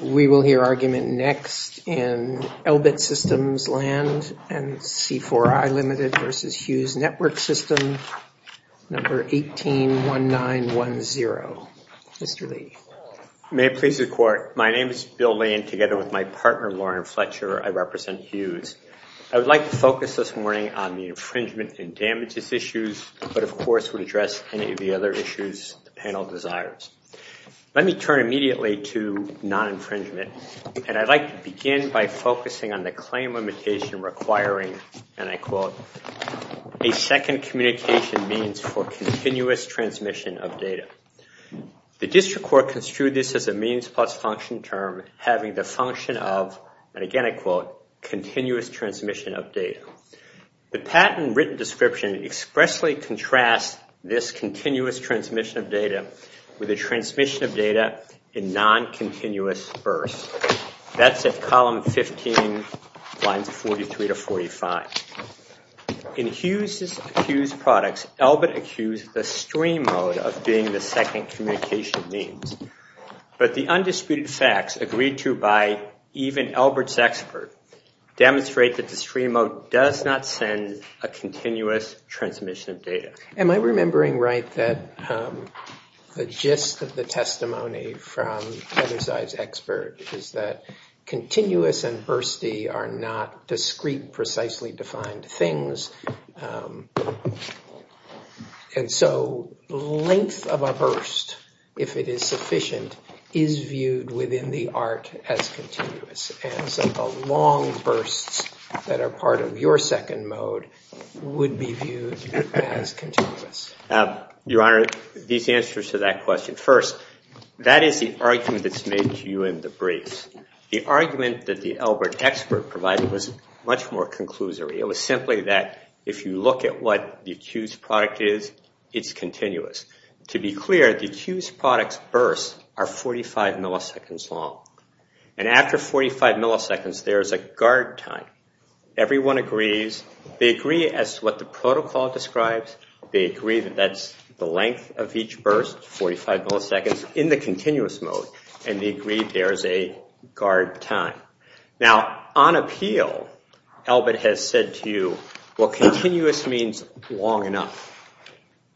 We will hear argument next in Elbit Systems Land and C4I Ltd v. Hughes Network Systems, number 181910. Mr. Lee. May it please the court, my name is Bill Lane together with my partner Lauren Fletcher. I represent Hughes. I would like to focus this morning on the infringement and damages issues, but of course would address any of the other issues the panel desires. Let me turn immediately to non-infringement and I'd like to begin by focusing on the claim limitation requiring, and I quote, a second communication means for continuous transmission of data. The district court construed this as a means plus function term having the function of, and again I quote, continuous transmission of data. The patent written description expressly contrasts this continuous transmission of data with a transmission of data in non-continuous birth. That's at column 15, lines 43 to 45. In Hughes' products, Elbit accused the stream mode of being the second communication means, but the undisputed facts agreed to by even Elbit's expert demonstrate that the stream mode does not send a continuous transmission of data. Am I remembering right that the gist of the testimony from Heather's eyes expert is that continuous and bursty are not discrete precisely defined things, and so length of a burst, if it is sufficient, is viewed within the art as continuous, and so the long bursts that are part of your second mode would be viewed as continuous? Your Honor, these answers to that question. First, that is the argument that's made to you in the briefs. The argument that the Elbit expert provided was much more conclusory. It was simply that if you look at what the Hughes product is, it's continuous. To be clear, the Hughes product's bursts are 45 milliseconds long, and after 45 milliseconds, there is a guard time. Everyone agrees. They agree as to what the protocol describes. They agree that that's the length of each burst, 45 milliseconds, in the continuous mode, and they agree there is a guard time. Now, on appeal, Elbit has said to you, well, continuous means long enough.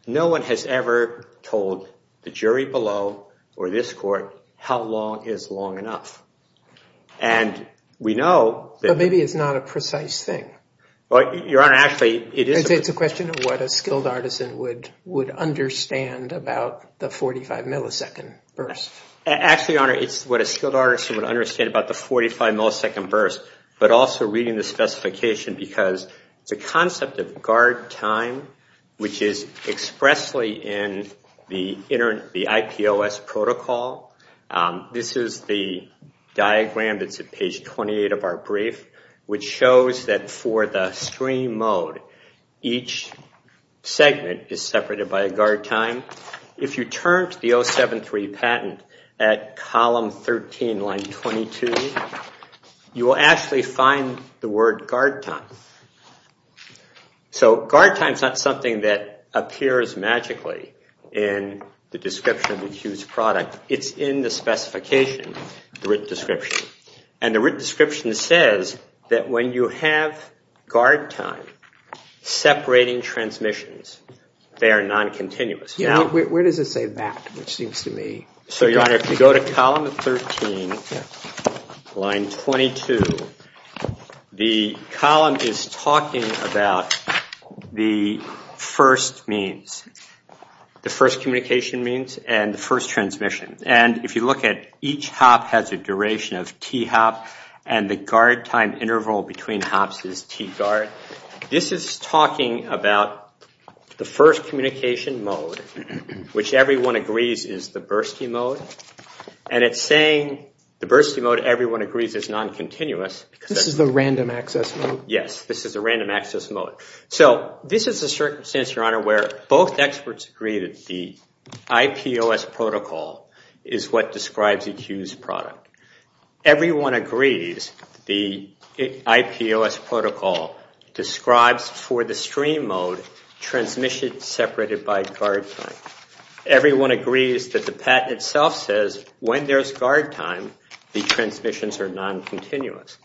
No one has ever told the jury below or this court how long is long enough, and we know that- But maybe it's not a precise thing. Well, Your Honor, actually, it is- It's a question of what a skilled artisan would understand about the 45 millisecond burst. Actually, Your Honor, it's what a skilled artisan would understand about the 45 millisecond burst, but also reading the specification because the concept of guard time, which is expressly in the IPOS protocol, this is the diagram that's at page 28 of our brief, which shows that for the stream mode, each segment is separated by a guard time. If you turn to the 073 patent at column 13, line 22, you will actually find the word guard time. So, guard time is not something that appears magically in the description of the accused product. It's in the specification, the written description, and the written description says that when you have guard time separating transmissions, they are non-continuous. Yeah, where does it say that, which seems to me- So, Your Honor, if you go to column 13, line 22, the column is talking about the first means, the first communication means, and the first transmission. And if you look at each hop has a duration of T hop, and the guard time interval between hops is T guard. This is talking about the first communication mode, which everyone agrees is the bursty mode, and it's saying the bursty mode, everyone agrees, is non-continuous. This is the random access mode? Yes, this is the random access mode. So, this is a circumstance, Your Honor, where both experts agree that the IPOS protocol is what describes the accused product. Everyone agrees the IPOS protocol describes for the stream mode transmission separated by guard time. Everyone agrees that the patent itself says when there's guard time, the transmissions are non-continuous.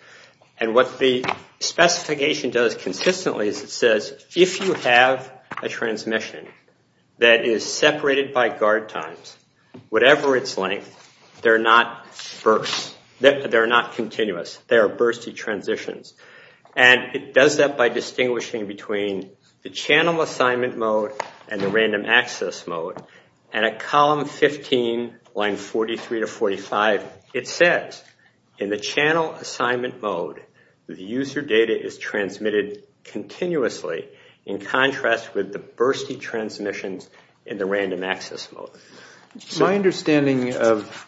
And what the specification does consistently is it says if you have a transmission that is separated by guard times, whatever its length, they're not continuous. They are bursty transitions. And it does that by distinguishing between the channel assignment mode and the random access mode. And at column 15, line 43 to 45, it says in the channel assignment mode, the user data is transmitted continuously in contrast with the bursty transmissions in the random access mode. My understanding of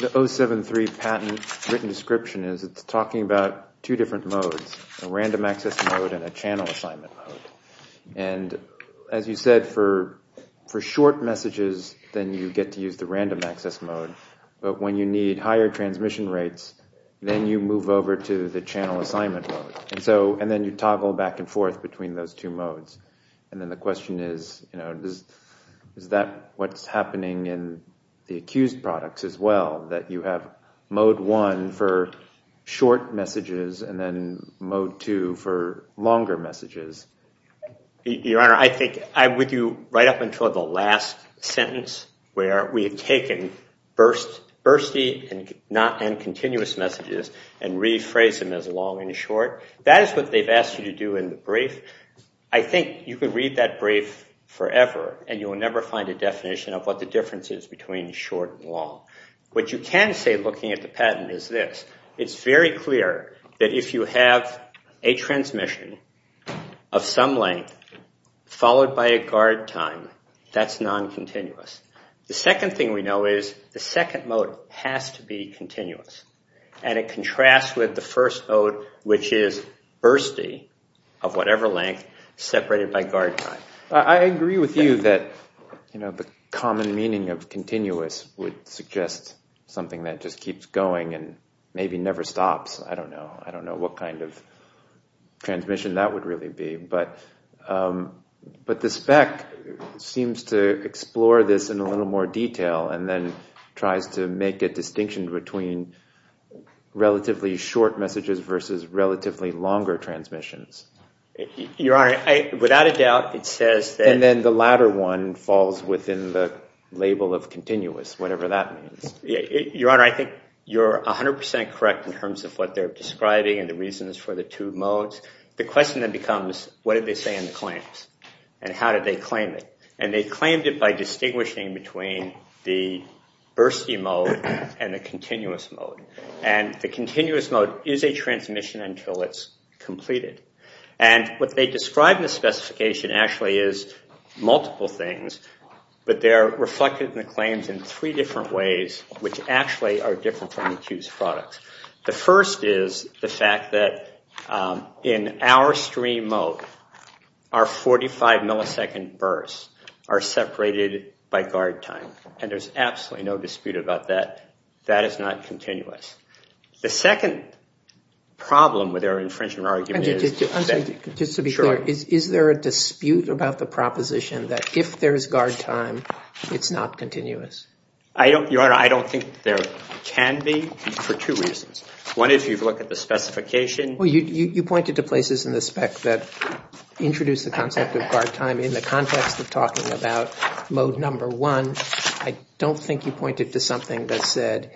the 073 patent written description is it's talking about two different modes, a random access mode and a channel assignment mode. And as you said, for short messages, then you get to use the random access mode. But when you need higher transmission rates, then you move over to the channel assignment mode. And then you toggle back and forth between those two modes. And then the question is, is that what's happening in the accused products as well, that you have mode one for short messages and then mode two for longer messages? Your Honor, I think I would do right up until the last sentence where we had taken bursty and continuous messages and rephrased them as long and short. That is what they've asked you to do in the brief. I think you could read that brief forever and you will never find a definition of what the difference is between short and long. What you can say looking at the patent is this. It's very clear that if you have a transmission of some length followed by a guard time, that's non-continuous. The second thing we know is the second mode has to be continuous. And it contrasts with the first mode, which is bursty of whatever length separated by guard time. I agree with you that the common meaning of continuous would suggest something that just keeps going and maybe never stops. I don't know. I don't know what kind of transmission that would really be. But the spec seems to explore this in a little more detail and then tries to make a distinction between relatively short messages versus relatively longer transmissions. Your Honor, without a doubt, it says that... And then the latter one falls within the label of continuous, whatever that means. Your Honor, I think you're 100% correct in terms of what they're describing and the reasons for the two modes. The question then becomes, what did they say in the claims and how did they claim it? And they claimed it by distinguishing between the bursty mode and the continuous mode. And the continuous mode is a transmission until it's completed. And what they describe in the specification actually is multiple things, but they're reflected in the claims in three different ways, which actually are different from the two's products. The first is the fact that in our stream mode, our 45 millisecond bursts are separated by guard time. And there's absolutely no dispute about that. That is not continuous. The second problem with their infringement argument is... And just to answer, just to be clear, is there a dispute about the proposition that if there's guard time, it's not continuous? Your Honor, I don't think there can be for two reasons. One, if you've looked at the specification... You pointed to places in the spec that introduce the concept of guard time in the context of talking about mode number one. I don't think you pointed to something that said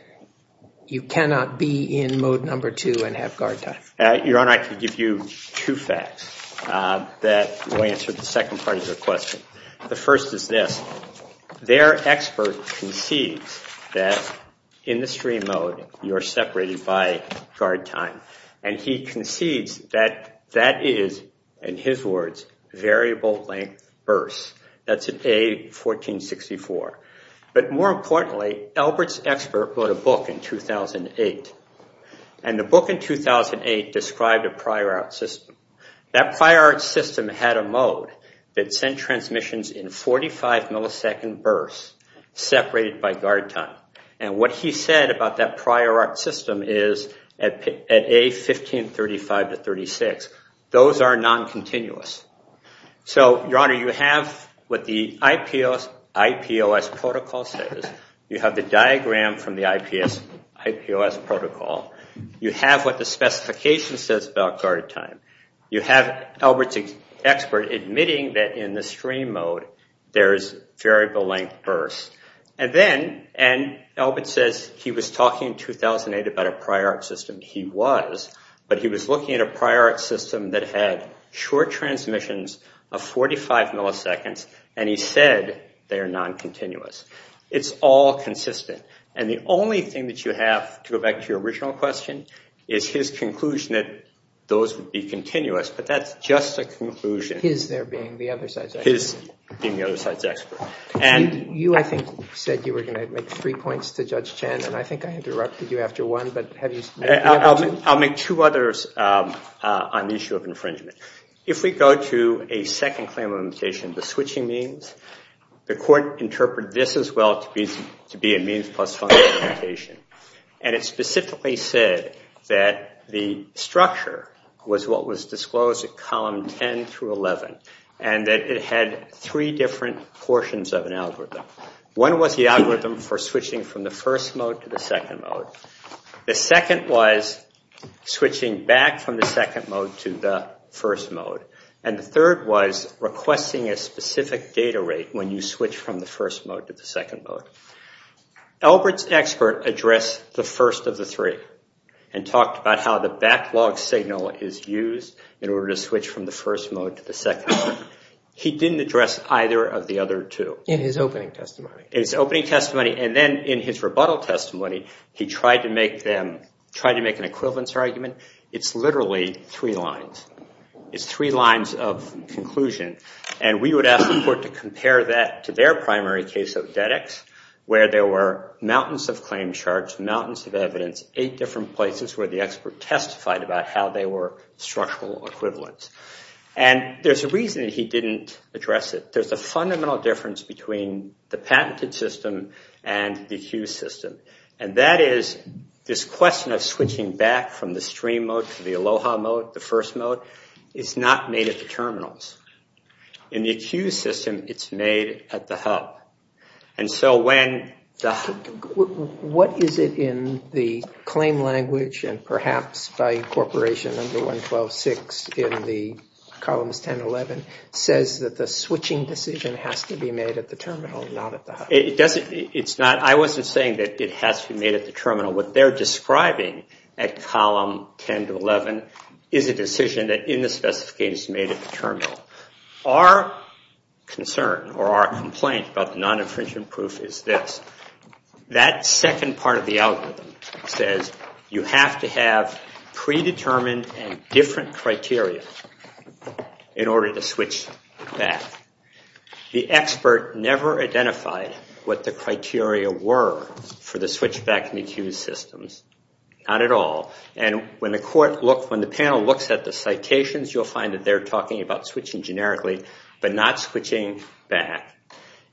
you cannot be in mode number two and have guard time. Your Honor, I can give you two facts that will answer the second part of your question. The first is this. Their expert concedes that in the stream mode, you're separated by guard time. And he concedes that that is, in his words, variable length bursts. That's an A1464. But more importantly, Albert's expert wrote a book in 2008. And the book in 2008 described a prior art system. That prior art system had a mode that sent transmissions in 45 millisecond bursts separated by guard time. And what he said about that prior art system is at A1535-36. Those are non-continuous. So, Your Honor, you have what the IPOS protocol says. You have the diagram from the IPOS protocol. You have what the in the stream mode, there's variable length bursts. And then, and Albert says he was talking in 2008 about a prior art system. He was. But he was looking at a prior art system that had short transmissions of 45 milliseconds. And he said they are non-continuous. It's all consistent. And the only thing that you have, to go back to your original question, is his conclusion that those would be continuous. But that's just a conclusion. His there being the other side's expert. His being the other side's expert. And you, I think, said you were going to make three points to Judge Chen. And I think I interrupted you after one. But have you made another two? I'll make two others on the issue of infringement. If we go to a second claim of limitation, the switching means, the court interpreted this as well to be a means plus function limitation. And it specifically said that the structure was what was disclosed at column 10 through 11. And that it had three different portions of an algorithm. One was the algorithm for switching from the first mode to the second mode. The second was switching back from the second mode to the first mode. And the third was requesting a specific data rate when you switch from the first mode to the second mode. Albert's expert addressed the first of the three. And talked about how the backlog signal is used in order to switch from the first mode to the second mode. He didn't address either of the other two. In his opening testimony. In his opening testimony. And then in his rebuttal testimony, he tried to make them, tried to make an equivalence argument. It's literally three lines. It's three lines of conclusion. And we would ask the court to look at their primary case of Dedex. Where there were mountains of claims charged. Mountains of evidence. Eight different places where the expert testified about how they were structural equivalents. And there's a reason that he didn't address it. There's a fundamental difference between the patented system and the accused system. And that is this question of switching back from the stream mode to the Aloha mode, the first mode. It's not made at the terminals. In the accused system, it's made at the hub. And so when... What is it in the claim language and perhaps by incorporation under 112.6 in the columns 10 to 11 says that the switching decision has to be made at the terminal, not at the hub? It doesn't. It's not. I wasn't saying that it has to be made at the terminal. What they're describing at column 10 to 11 is a decision that in the specifications made at the or our complaint about the non-infringement proof is this. That second part of the algorithm says you have to have predetermined and different criteria in order to switch back. The expert never identified what the criteria were for the switch back in the accused systems. Not at all. And when the panel looks at the citations, you'll find that they're talking about switching generically, but not switching back.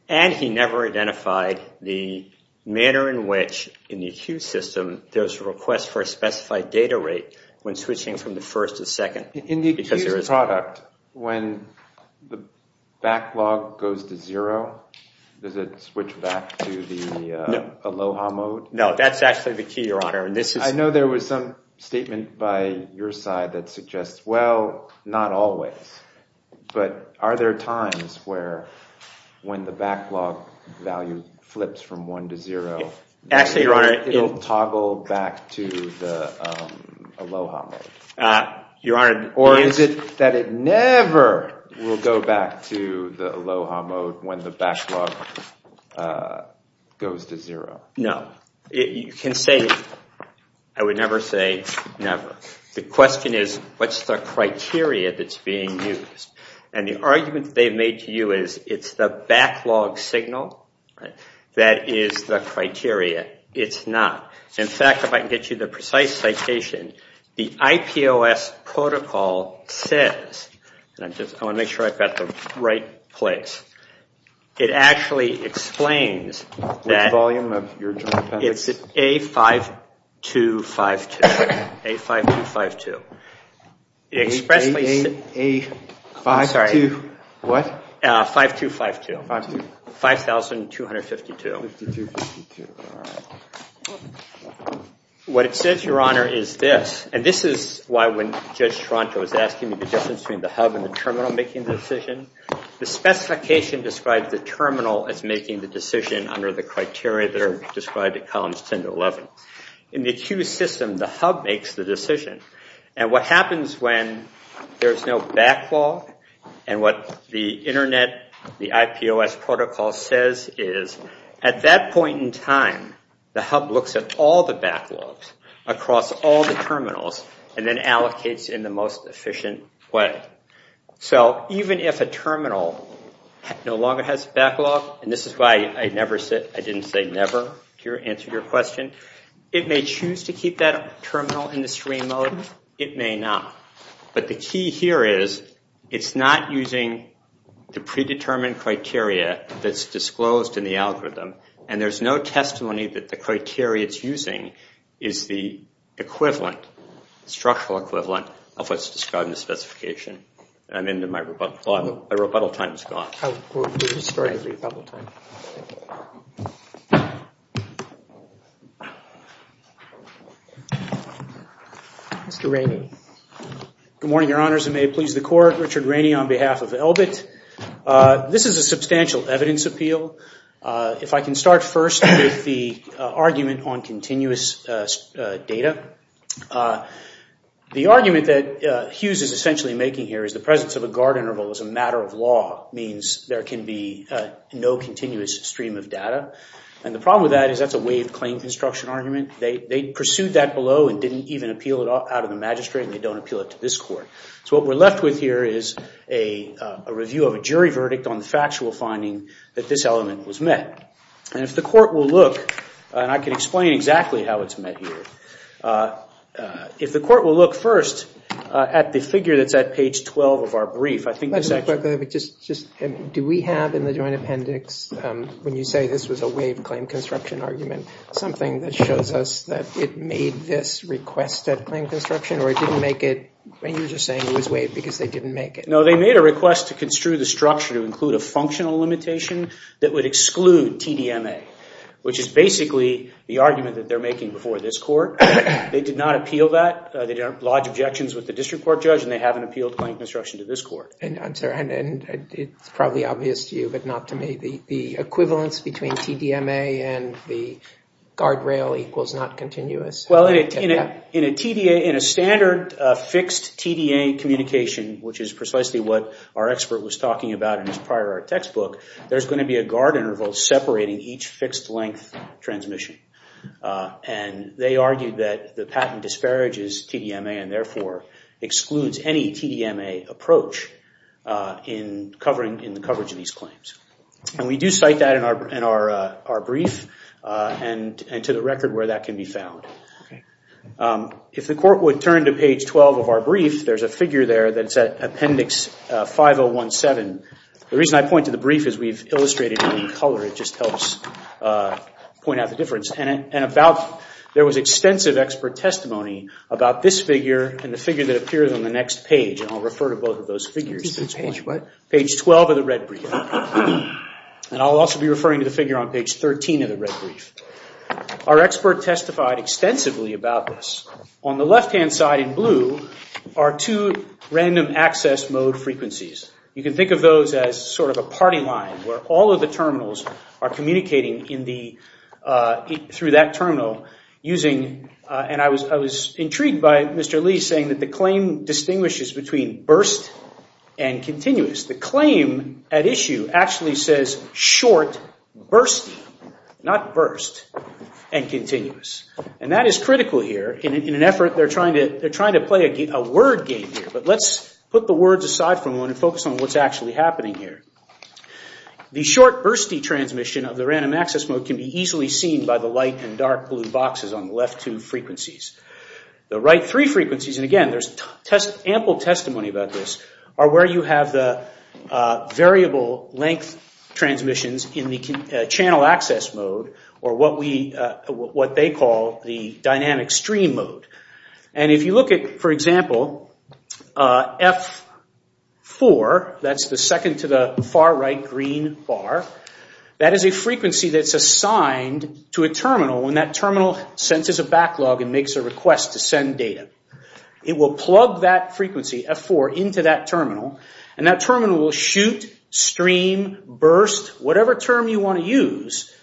And he never identified the manner in which in the accused system, there's a request for a specified data rate when switching from the first to second. In the accused product, when the backlog goes to zero, does it switch back to the Aloha mode? No, that's actually the key, your honor. And this is... statement by your side that suggests, well, not always, but are there times where when the backlog value flips from one to zero... Actually, your honor... It'll toggle back to the Aloha mode? Your honor... Or is it that it never will go back to the Aloha mode when the backlog goes to zero? No. You can say... I would never say never. The question is, what's the criteria that's being used? And the argument they've made to you is, it's the backlog signal that is the criteria. It's not. In fact, if I can get you the precise citation, the IPOS protocol says, and I want to make sure I've got the right place. It actually explains that... What volume of your joint appendix? It's A5252. A5252. A5252. What? 5252. 5252. What it says, your honor, is this. And this is why when Judge Tronto is asking me the difference between the hub and the terminal making the decision, the specification describes the terminal as making the decision under the criteria that are described in columns 10 to 11. In the queue system, the hub makes the decision. And what happens when there's no backlog and what the internet, the IPOS protocol says is, at that point in time, the hub looks at all the backlogs across all the terminals and then allocates in the most efficient way. So even if a terminal no longer has backlog, and this is why I didn't say never to answer your question, it may choose to keep that terminal in the screen mode. It may not. But the key here is, it's not using the predetermined criteria that's disclosed in the algorithm. And there's no equivalent, structural equivalent, of what's described in the specification. I'm into my rebuttal. My rebuttal time is gone. Mr. Rainey. Good morning, your honors. And may it please the court, Richard Rainey on behalf of ELBIT. This is a substantial evidence appeal. If I can start first with the argument on continuous data. The argument that Hughes is essentially making here is the presence of a guard interval is a matter of law, means there can be no continuous stream of data. And the problem with that is that's a waived claim construction argument. They pursued that below and didn't even appeal it out of the magistrate, and they don't appeal it to this court. So what we're left with here is a review of a jury verdict on the factual finding that this element was met. And if the court will look, and I can explain exactly how it's met here, if the court will look first at the figure that's at page 12 of our brief. Do we have in the joint appendix, when you say this was a waived claim construction argument, something that shows us that it made this request at claim construction, or it didn't make it? You're just saying it was waived because they didn't make it. No, they made a request to construe the structure to include a functional limitation that would exclude TDMA, which is basically the argument that they're making before this court. They did not appeal that. They didn't lodge objections with the district court judge, and they haven't appealed claim construction to this court. And it's probably obvious to you, but not to me, the equivalence between TDMA and the guardrail equals not continuous. Well, in a standard fixed TDA communication, which is precisely what our expert was talking about in his prior textbook, there's going to be a guard interval separating each fixed length transmission. And they argued that the patent disparages TDMA and therefore excludes any TDMA approach in the coverage of these claims. And we do cite that in our brief and to the record where that can be found. If the court would turn to page 12 of our brief, there's a figure there appendix 5017. The reason I point to the brief is we've illustrated it in color. It just helps point out the difference. And there was extensive expert testimony about this figure and the figure that appears on the next page. And I'll refer to both of those figures. Page what? Page 12 of the red brief. And I'll also be referring to the figure on page 13 of the red brief. Our expert testified extensively about this. On the left-hand side in blue are two random access mode frequencies. You can think of those as sort of a party line where all of the terminals are communicating through that terminal. And I was intrigued by Mr. Lee saying that the claim distinguishes between burst and continuous. The claim at issue actually says short, bursty, not burst, and continuous. And that is critical here. In an word game here, but let's put the words aside for a moment and focus on what's actually happening here. The short, bursty transmission of the random access mode can be easily seen by the light and dark blue boxes on the left two frequencies. The right three frequencies, and again there's ample testimony about this, are where you have the variable length transmissions in the channel access mode, or what they call the dynamic stream mode. And if you look at, for example, F4, that's the second to the far right green bar, that is a frequency that's assigned to a terminal when that terminal senses a backlog and makes a request to send data. It will plug that frequency, F4, into that terminal, and that terminal will shoot, stream, burst, whatever term you want to use,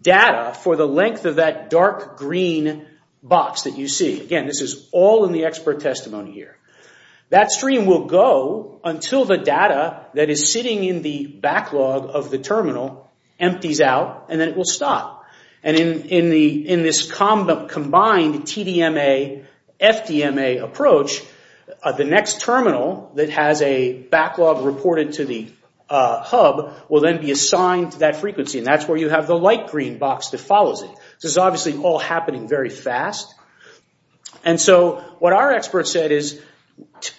data for the length of that dark green box that you see. Again, this is all in the expert testimony here. That stream will go until the data that is sitting in the backlog of the terminal that has a backlog reported to the hub will then be assigned to that frequency, and that's where you have the light green box that follows it. This is obviously all happening very fast. And so what our expert said is,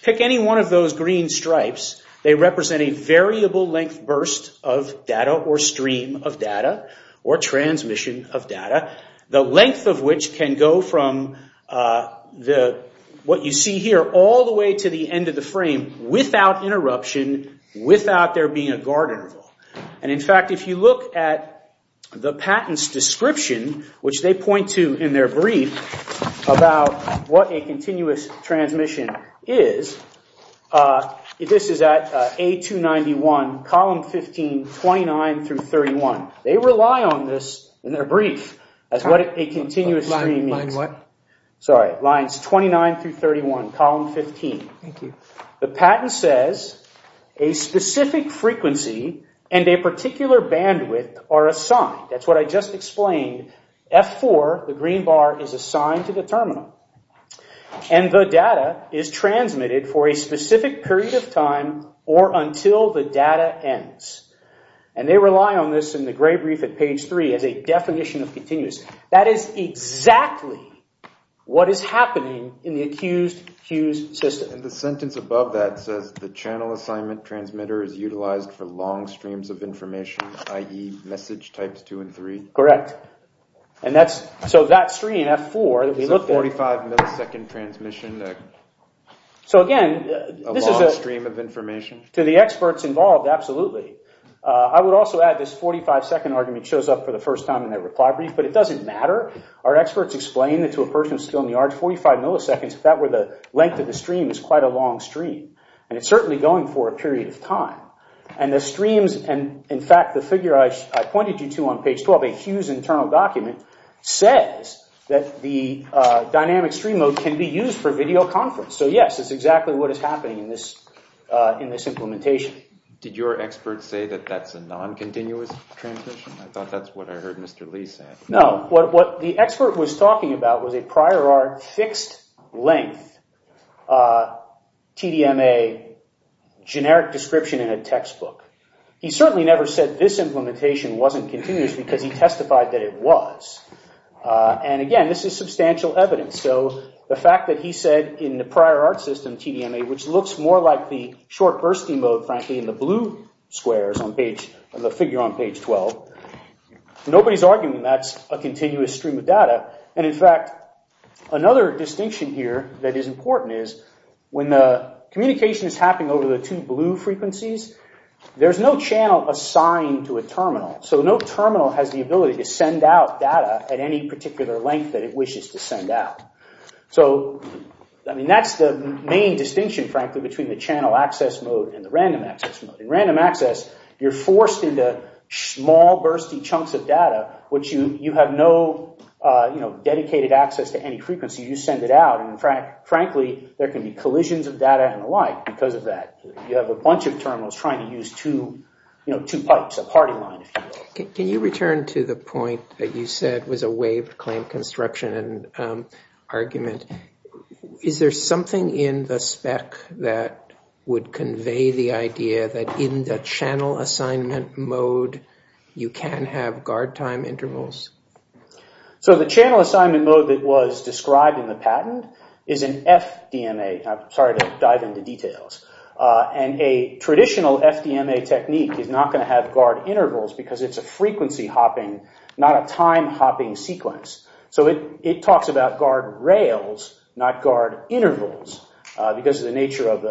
pick any one of those green stripes. They represent a variable length burst of data, or stream of data, or transmission of data, the length of which can go from what you see here all the way to the end of the frame without interruption, without there being a guard interval. And in fact, if you look at the patent's description, which they point to in their brief about what a continuous transmission is, this is at A291, column 15, 29 through 31. They rely on this in their brief as what a continuous stream means. Sorry, lines 29 through 31, column 15. The patent says, a specific frequency and a particular bandwidth are assigned. That's what I just explained. F4, the green bar, is assigned to And they rely on this in the gray brief at page 3 as a definition of continuous. That is exactly what is happening in the accused-fused system. And the sentence above that says, the channel assignment transmitter is utilized for long streams of information, i.e. message types 2 and 3. Correct. And that's, so that stream, F4, that we looked at... 45 millisecond transmission. So again, this is a... A long stream of information. To the experts involved, absolutely. I would also add this 45-second argument shows up for the first time in their reply brief, but it doesn't matter. Our experts explain that to a person of skill in the arts, 45 milliseconds, if that were the length of the stream, is quite a long stream. And it's certainly going for a period of time. And the streams, and in fact, the figure I pointed you to on page 12, a Hughes internal document, says that the dynamic stream can be used for video conference. So yes, it's exactly what is happening in this implementation. Did your expert say that that's a non-continuous transmission? I thought that's what I heard Mr. Lee say. No. What the expert was talking about was a prior art fixed length TDMA generic description in a textbook. He certainly never said this implementation wasn't continuous because he testified that it was. And again, this is substantial evidence. So the fact that he said in the prior art system TDMA, which looks more like the short bursty mode, frankly, in the blue squares on the figure on page 12, nobody's arguing that's a continuous stream of data. And in fact, another distinction here that is important is when the communication is happening over the two blue frequencies, there's no channel assigned to a terminal. So no terminal has the ability to send out data at any particular length that it wishes to send out. So I mean, that's the main distinction, frankly, between the channel access mode and the random access mode. In random access, you're forced into small bursty chunks of data, which you have no dedicated access to any frequency. You send it out, and frankly, there can be collisions of data and the like because of that. You have a bunch of terminals trying to use two pipes, a party line, Can you return to the point that you said was a waived claim construction and argument? Is there something in the spec that would convey the idea that in the channel assignment mode, you can have guard time intervals? So the channel assignment mode that was described in the patent is an FDMA. I'm sorry to dive into details. And a traditional FDMA technique is not going to have guard intervals because it's a frequency hopping, not a time hopping sequence. So it talks about guard rails, not guard intervals, because of the nature of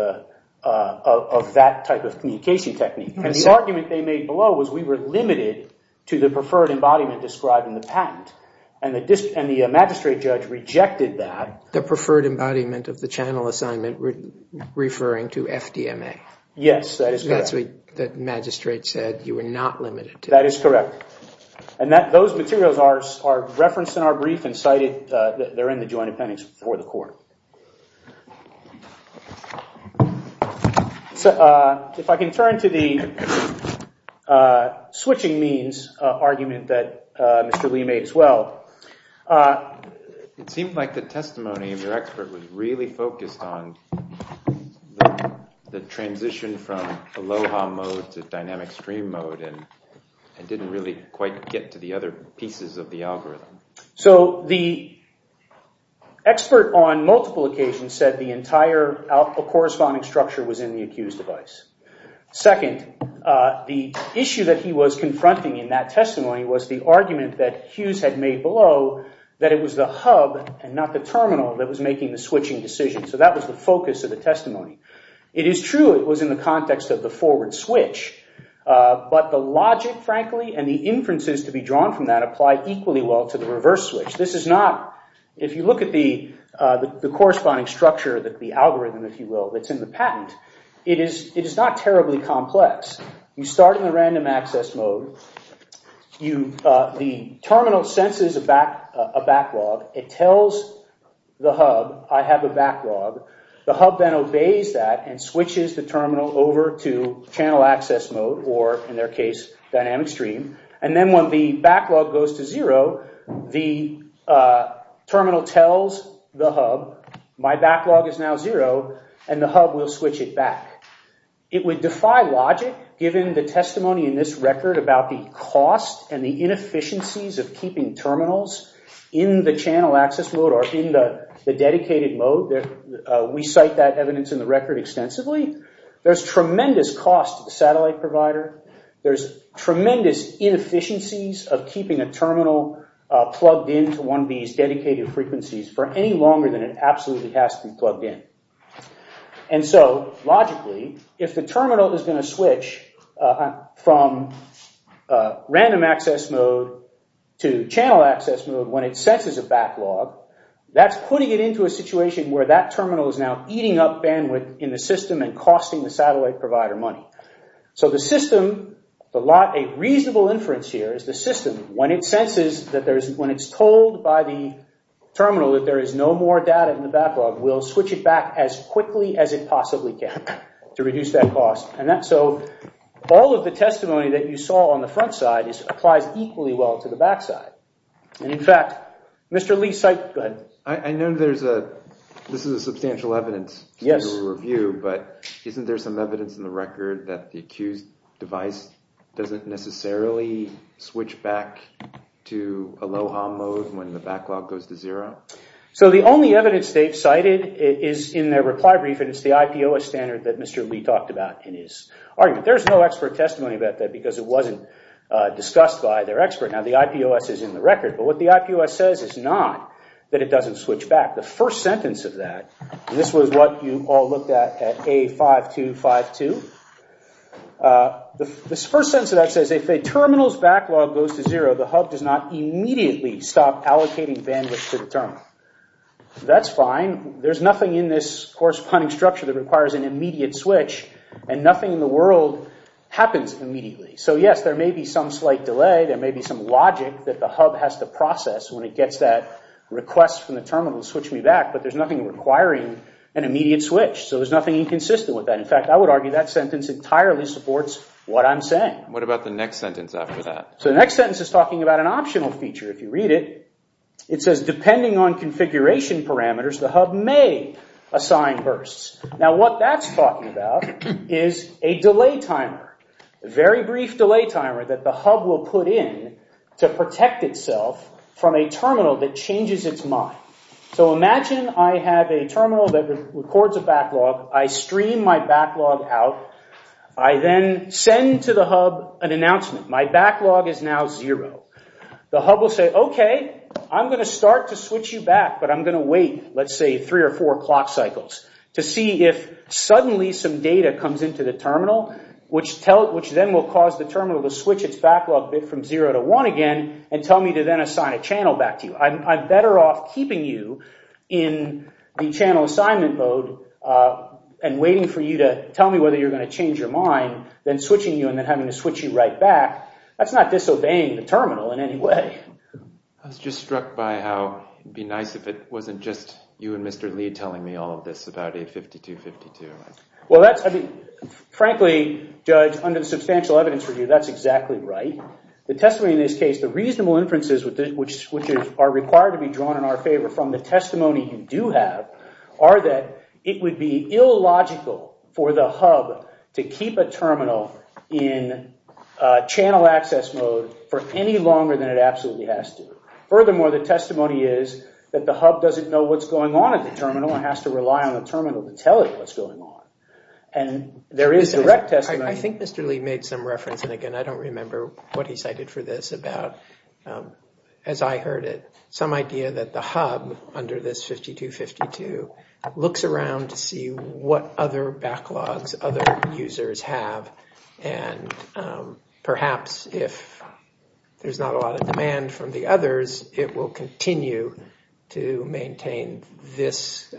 that type of communication technique. And the argument they made below was we were limited to the preferred embodiment described in the patent. And the magistrate judge rejected that. The preferred embodiment of the Yes, that is correct. That's what the magistrate said. You were not limited to that. That is correct. And that those materials are referenced in our brief and cited. They're in the joint appendix for the court. So if I can turn to the switching means argument that Mr. Lee made as well. It seemed like the testimony of your expert was really focused on the transition from aloha mode to dynamic stream mode and didn't really quite get to the other pieces of the algorithm. So the expert on multiple occasions said the entire corresponding structure was in the accused device. Second, the issue that he was confronting in that testimony was the argument that Hughes had made below that it was the hub and not the terminal that was making the switching decision. So that was the focus of the testimony. It is true it was in the context of the forward switch. But the logic, frankly, and the inferences to be drawn from that apply equally well to the reverse switch. If you look at the corresponding structure, the algorithm, if you will, that's in the patent, it is not terribly complex. You start in the random access mode. The terminal senses a backlog. It tells the hub, I have a backlog. The hub then obeys that and switches the terminal over to channel access mode or, in their case, dynamic stream. And then when the backlog goes to zero, the terminal tells the hub, my backlog is now zero, and the hub will switch to dynamic stream. If you think about the cost and the inefficiencies of keeping terminals in the channel access mode or in the dedicated mode, we cite that evidence in the record extensively. There's tremendous cost to the satellite provider. There's tremendous inefficiencies of keeping a terminal plugged into one of these dedicated frequencies for any longer than it absolutely has to be plugged in. And so, logically, if the terminal is going to switch from random access mode to channel access mode when it senses a backlog, that's putting it into a situation where that terminal is now eating up bandwidth in the system and costing the satellite provider money. So the system, a reasonable inference here is the system, when it senses, when it's told by the backlog, will switch it back as quickly as it possibly can to reduce that cost. So all of the testimony that you saw on the front side applies equally well to the back side. And in fact, Mr. Lee cite, go ahead. I know there's a, this is a substantial evidence to review, but isn't there some evidence in the record that the accused device doesn't necessarily switch back to Aloha mode when the backlog goes to zero? So the only evidence they've cited is in their reply brief, and it's the IPOS standard that Mr. Lee talked about in his argument. There's no expert testimony about that because it wasn't discussed by their expert. Now the IPOS is in the record, but what the IPOS says is not that it doesn't switch back. The first sentence of that, this was what you all looked at at A5252. The first sentence of that says, if a terminal's backlog goes to zero, the hub does not immediately stop allocating bandwidth to the terminal. That's fine. There's nothing in this corresponding structure that requires an immediate switch, and nothing in the world happens immediately. So yes, there may be some slight delay. There may be some logic that the hub has to process when it gets that request from the terminal to switch me back, but there's nothing requiring an immediate switch. So there's nothing inconsistent with that. In fact, I would argue that sentence entirely supports what I'm saying. What about the next sentence after that? So the next sentence is talking about an optional feature. If you read it, it says, depending on configuration parameters, the hub may assign bursts. Now what that's talking about is a delay timer, a very brief delay timer that the hub will put in to protect itself from a terminal that changes its mind. So imagine I have a terminal that records a backlog. I stream my backlog out. I then send to the hub an announcement. My backlog is now zero. The hub will say, okay, I'm going to start to switch you back, but I'm going to wait, let's say, three or four clock cycles to see if suddenly some data comes into the terminal, which then will cause the terminal to switch its backlog bit from zero to one again and tell me to then assign a channel back to you. I'm better off keeping you in the channel assignment mode and waiting for you to tell me whether you're going to change your mind than switching you and then having to switch you right back. That's not disobeying the terminal in any way. I was just struck by how it'd be nice if it wasn't just you and Mr. Lee telling me all of this about A5252. Well, that's, I mean, frankly, Judge, under the substantial evidence review, that's exactly right. The testimony in this case, the reasonable inferences which are required to be drawn in our favor from the testimony you do have are that it would be illogical for the hub to keep a terminal in channel access mode for any longer than it absolutely has to. Furthermore, the testimony is that the hub doesn't know what's going on at the terminal and has to rely on the terminal to tell it what's going on, and there is direct testimony. I think Mr. Lee made some reference, and again, I don't remember what he cited for this, about, as I heard it, some idea that the hub under this 5252 looks around to see what other backlogs other users have, and perhaps if there's not a lot of demand from the others, it will continue to maintain this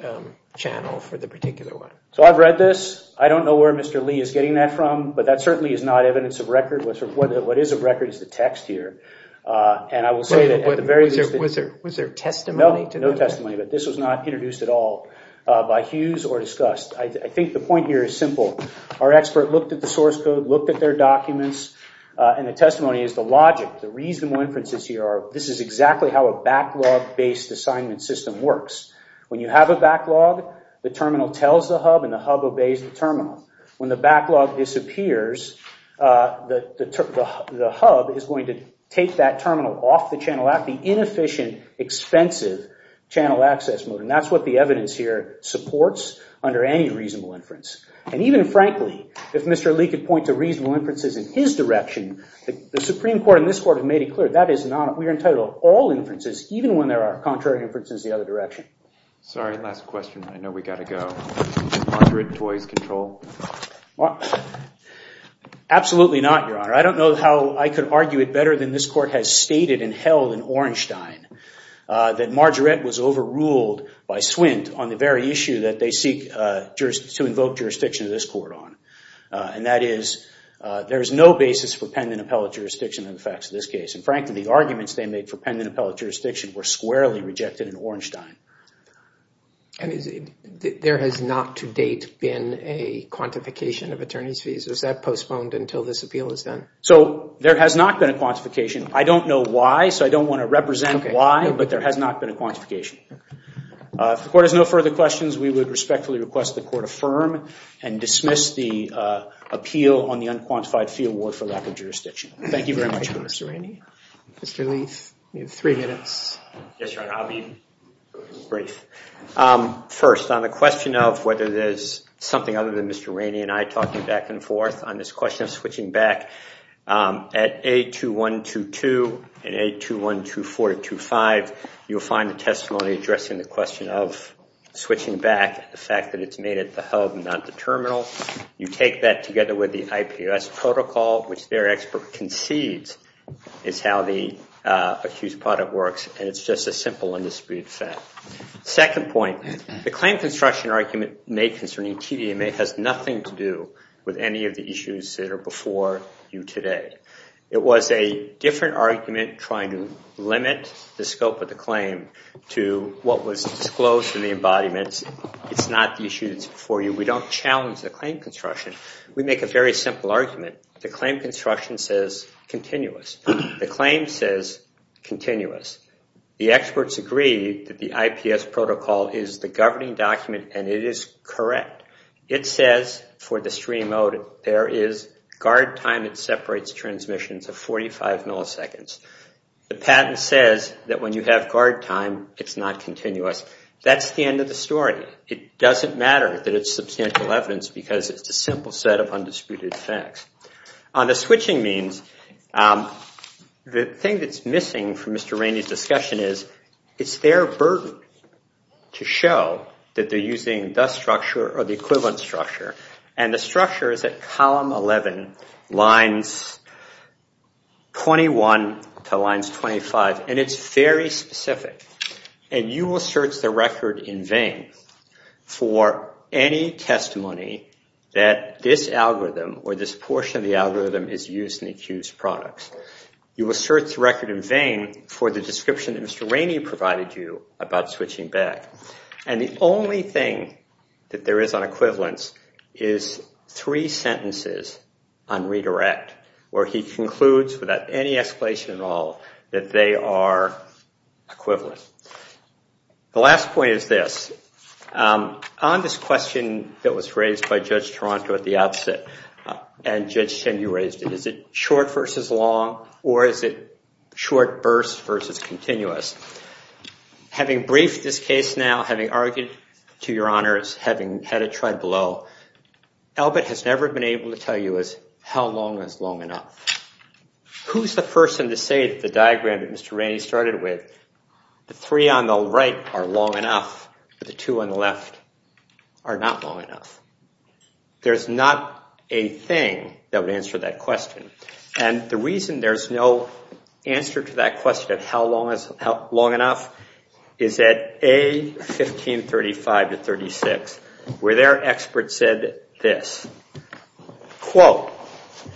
channel for the particular one. So I've read this. I don't know where Mr. Lee is getting that from, but that certainly is not evidence of record. What is of record is the text here, and I will say that at the very least... Was there testimony? No, no testimony, but this was not introduced at all by Hughes or discussed. I think the point here is simple. Our expert looked at the source code, looked at their documents, and the testimony is the logic, the reasonable inferences here are this is exactly how a backlog-based assignment system works. When you have a backlog, the terminal tells the hub and the hub obeys the terminal. When the backlog disappears, the hub is going to take that terminal off the channel at the inefficient, expensive channel access mode, and that's what the evidence here supports under any reasonable inference. And even frankly, if Mr. Lee could point to reasonable inferences in his direction, the Supreme Court and this Court have made it clear that is not... We are entitled to all inferences, even when there are contrary inferences the other direction. Sorry, last question. I know we got to go. Is margarite toys control? Absolutely not, Your Honor. I don't know how I could argue it better than this Court has stated and held in Ornstein that margarite was overruled by Swint on the very issue that they seek to invoke jurisdiction of this Court on, and that is there is no basis for pendant appellate jurisdiction in the facts of this case. And frankly, the arguments they made for pendant appellate jurisdiction were squarely rejected in Ornstein. And there has not to date been a quantification of attorney's fees. Was that postponed until this appeal is done? So there has not been a quantification. I don't know why, so I don't want to represent why, but there has not been a quantification. If the Court has no further questions, we would respectfully request the Court affirm and dismiss the appeal on the unquantified fee award for lack of jurisdiction. Thank you very much, Mr. Rainey. Mr. Leith, you have three minutes. Yes, Your Honor, I'll be brief. First, on the question of whether there's something other than Mr. Rainey and I talking back and forth on this question of switching back at A2122 and A2124 to A2125, you'll find the testimony addressing the question of switching back at the fact that it's made at the hub and not the terminal. You take that together with the IPOS protocol, which their expert concedes is how the accused product works, and it's just a simple indisputed fact. Second point, the claim construction argument made concerning TDMA has nothing to do with any of the issues that are before you today. It was a different argument trying to limit the scope of the claim to what was disclosed in the embodiments. It's not the issue that's before you. We don't challenge the claim construction. We make a very simple argument. The claim construction says continuous. The claim says continuous. The experts agree that the IPS protocol is the governing document, and it is correct. It says for the stream mode, there is guard time that separates transmissions of 45 milliseconds. The patent says that when you have guard time, it's not continuous. That's the end of the story. It doesn't matter that it's substantial evidence because it's a simple set of undisputed facts. On the switching means, the thing that's missing from Mr. Rainey's discussion is it's their burden to show that they're using the structure or the equivalent structure, and the structure is at column 11, lines 21 to lines 25, and it's very specific, and you will search the record in vain for any testimony that this algorithm or this portion of the algorithm is using the accused products. You will search the record in vain for the description that Mr. Rainey provided you about switching back, and the only thing that there is on equivalence is three sentences on redirect where he concludes without any explanation at all that they are equivalent. The last point is this. On this question that was raised by Judge Toronto at the outset, and Judge Chen, you raised it, is it short versus long, or is it short burst versus continuous? Having briefed this case now, having argued to your honors, having had it tried below, Albert has never been able to tell you how long is long enough. Who's the person to say that the diagram that Mr. Rainey started with, the three on the right are long enough, but the two on the left are not long enough? There's not a thing that would answer that question, and the reason there's no answer to that question of how long is long enough is at A, 1535 to 36, where their expert said this, quote,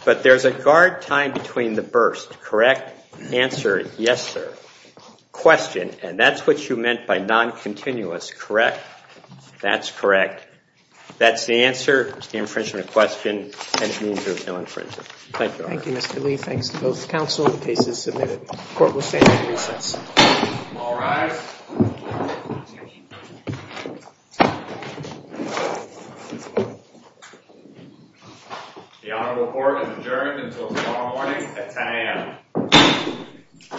but there's a guard time between the burst, correct? Answer, yes, sir. Question, and that's what you meant by non-continuous, correct? That's correct. That's the answer. It's the infringement question, and it means there's no infringement. Thank you. Thank you, Mr. Lee. Thanks to both guys. The honorable court is adjourned until tomorrow morning at 10 a.m.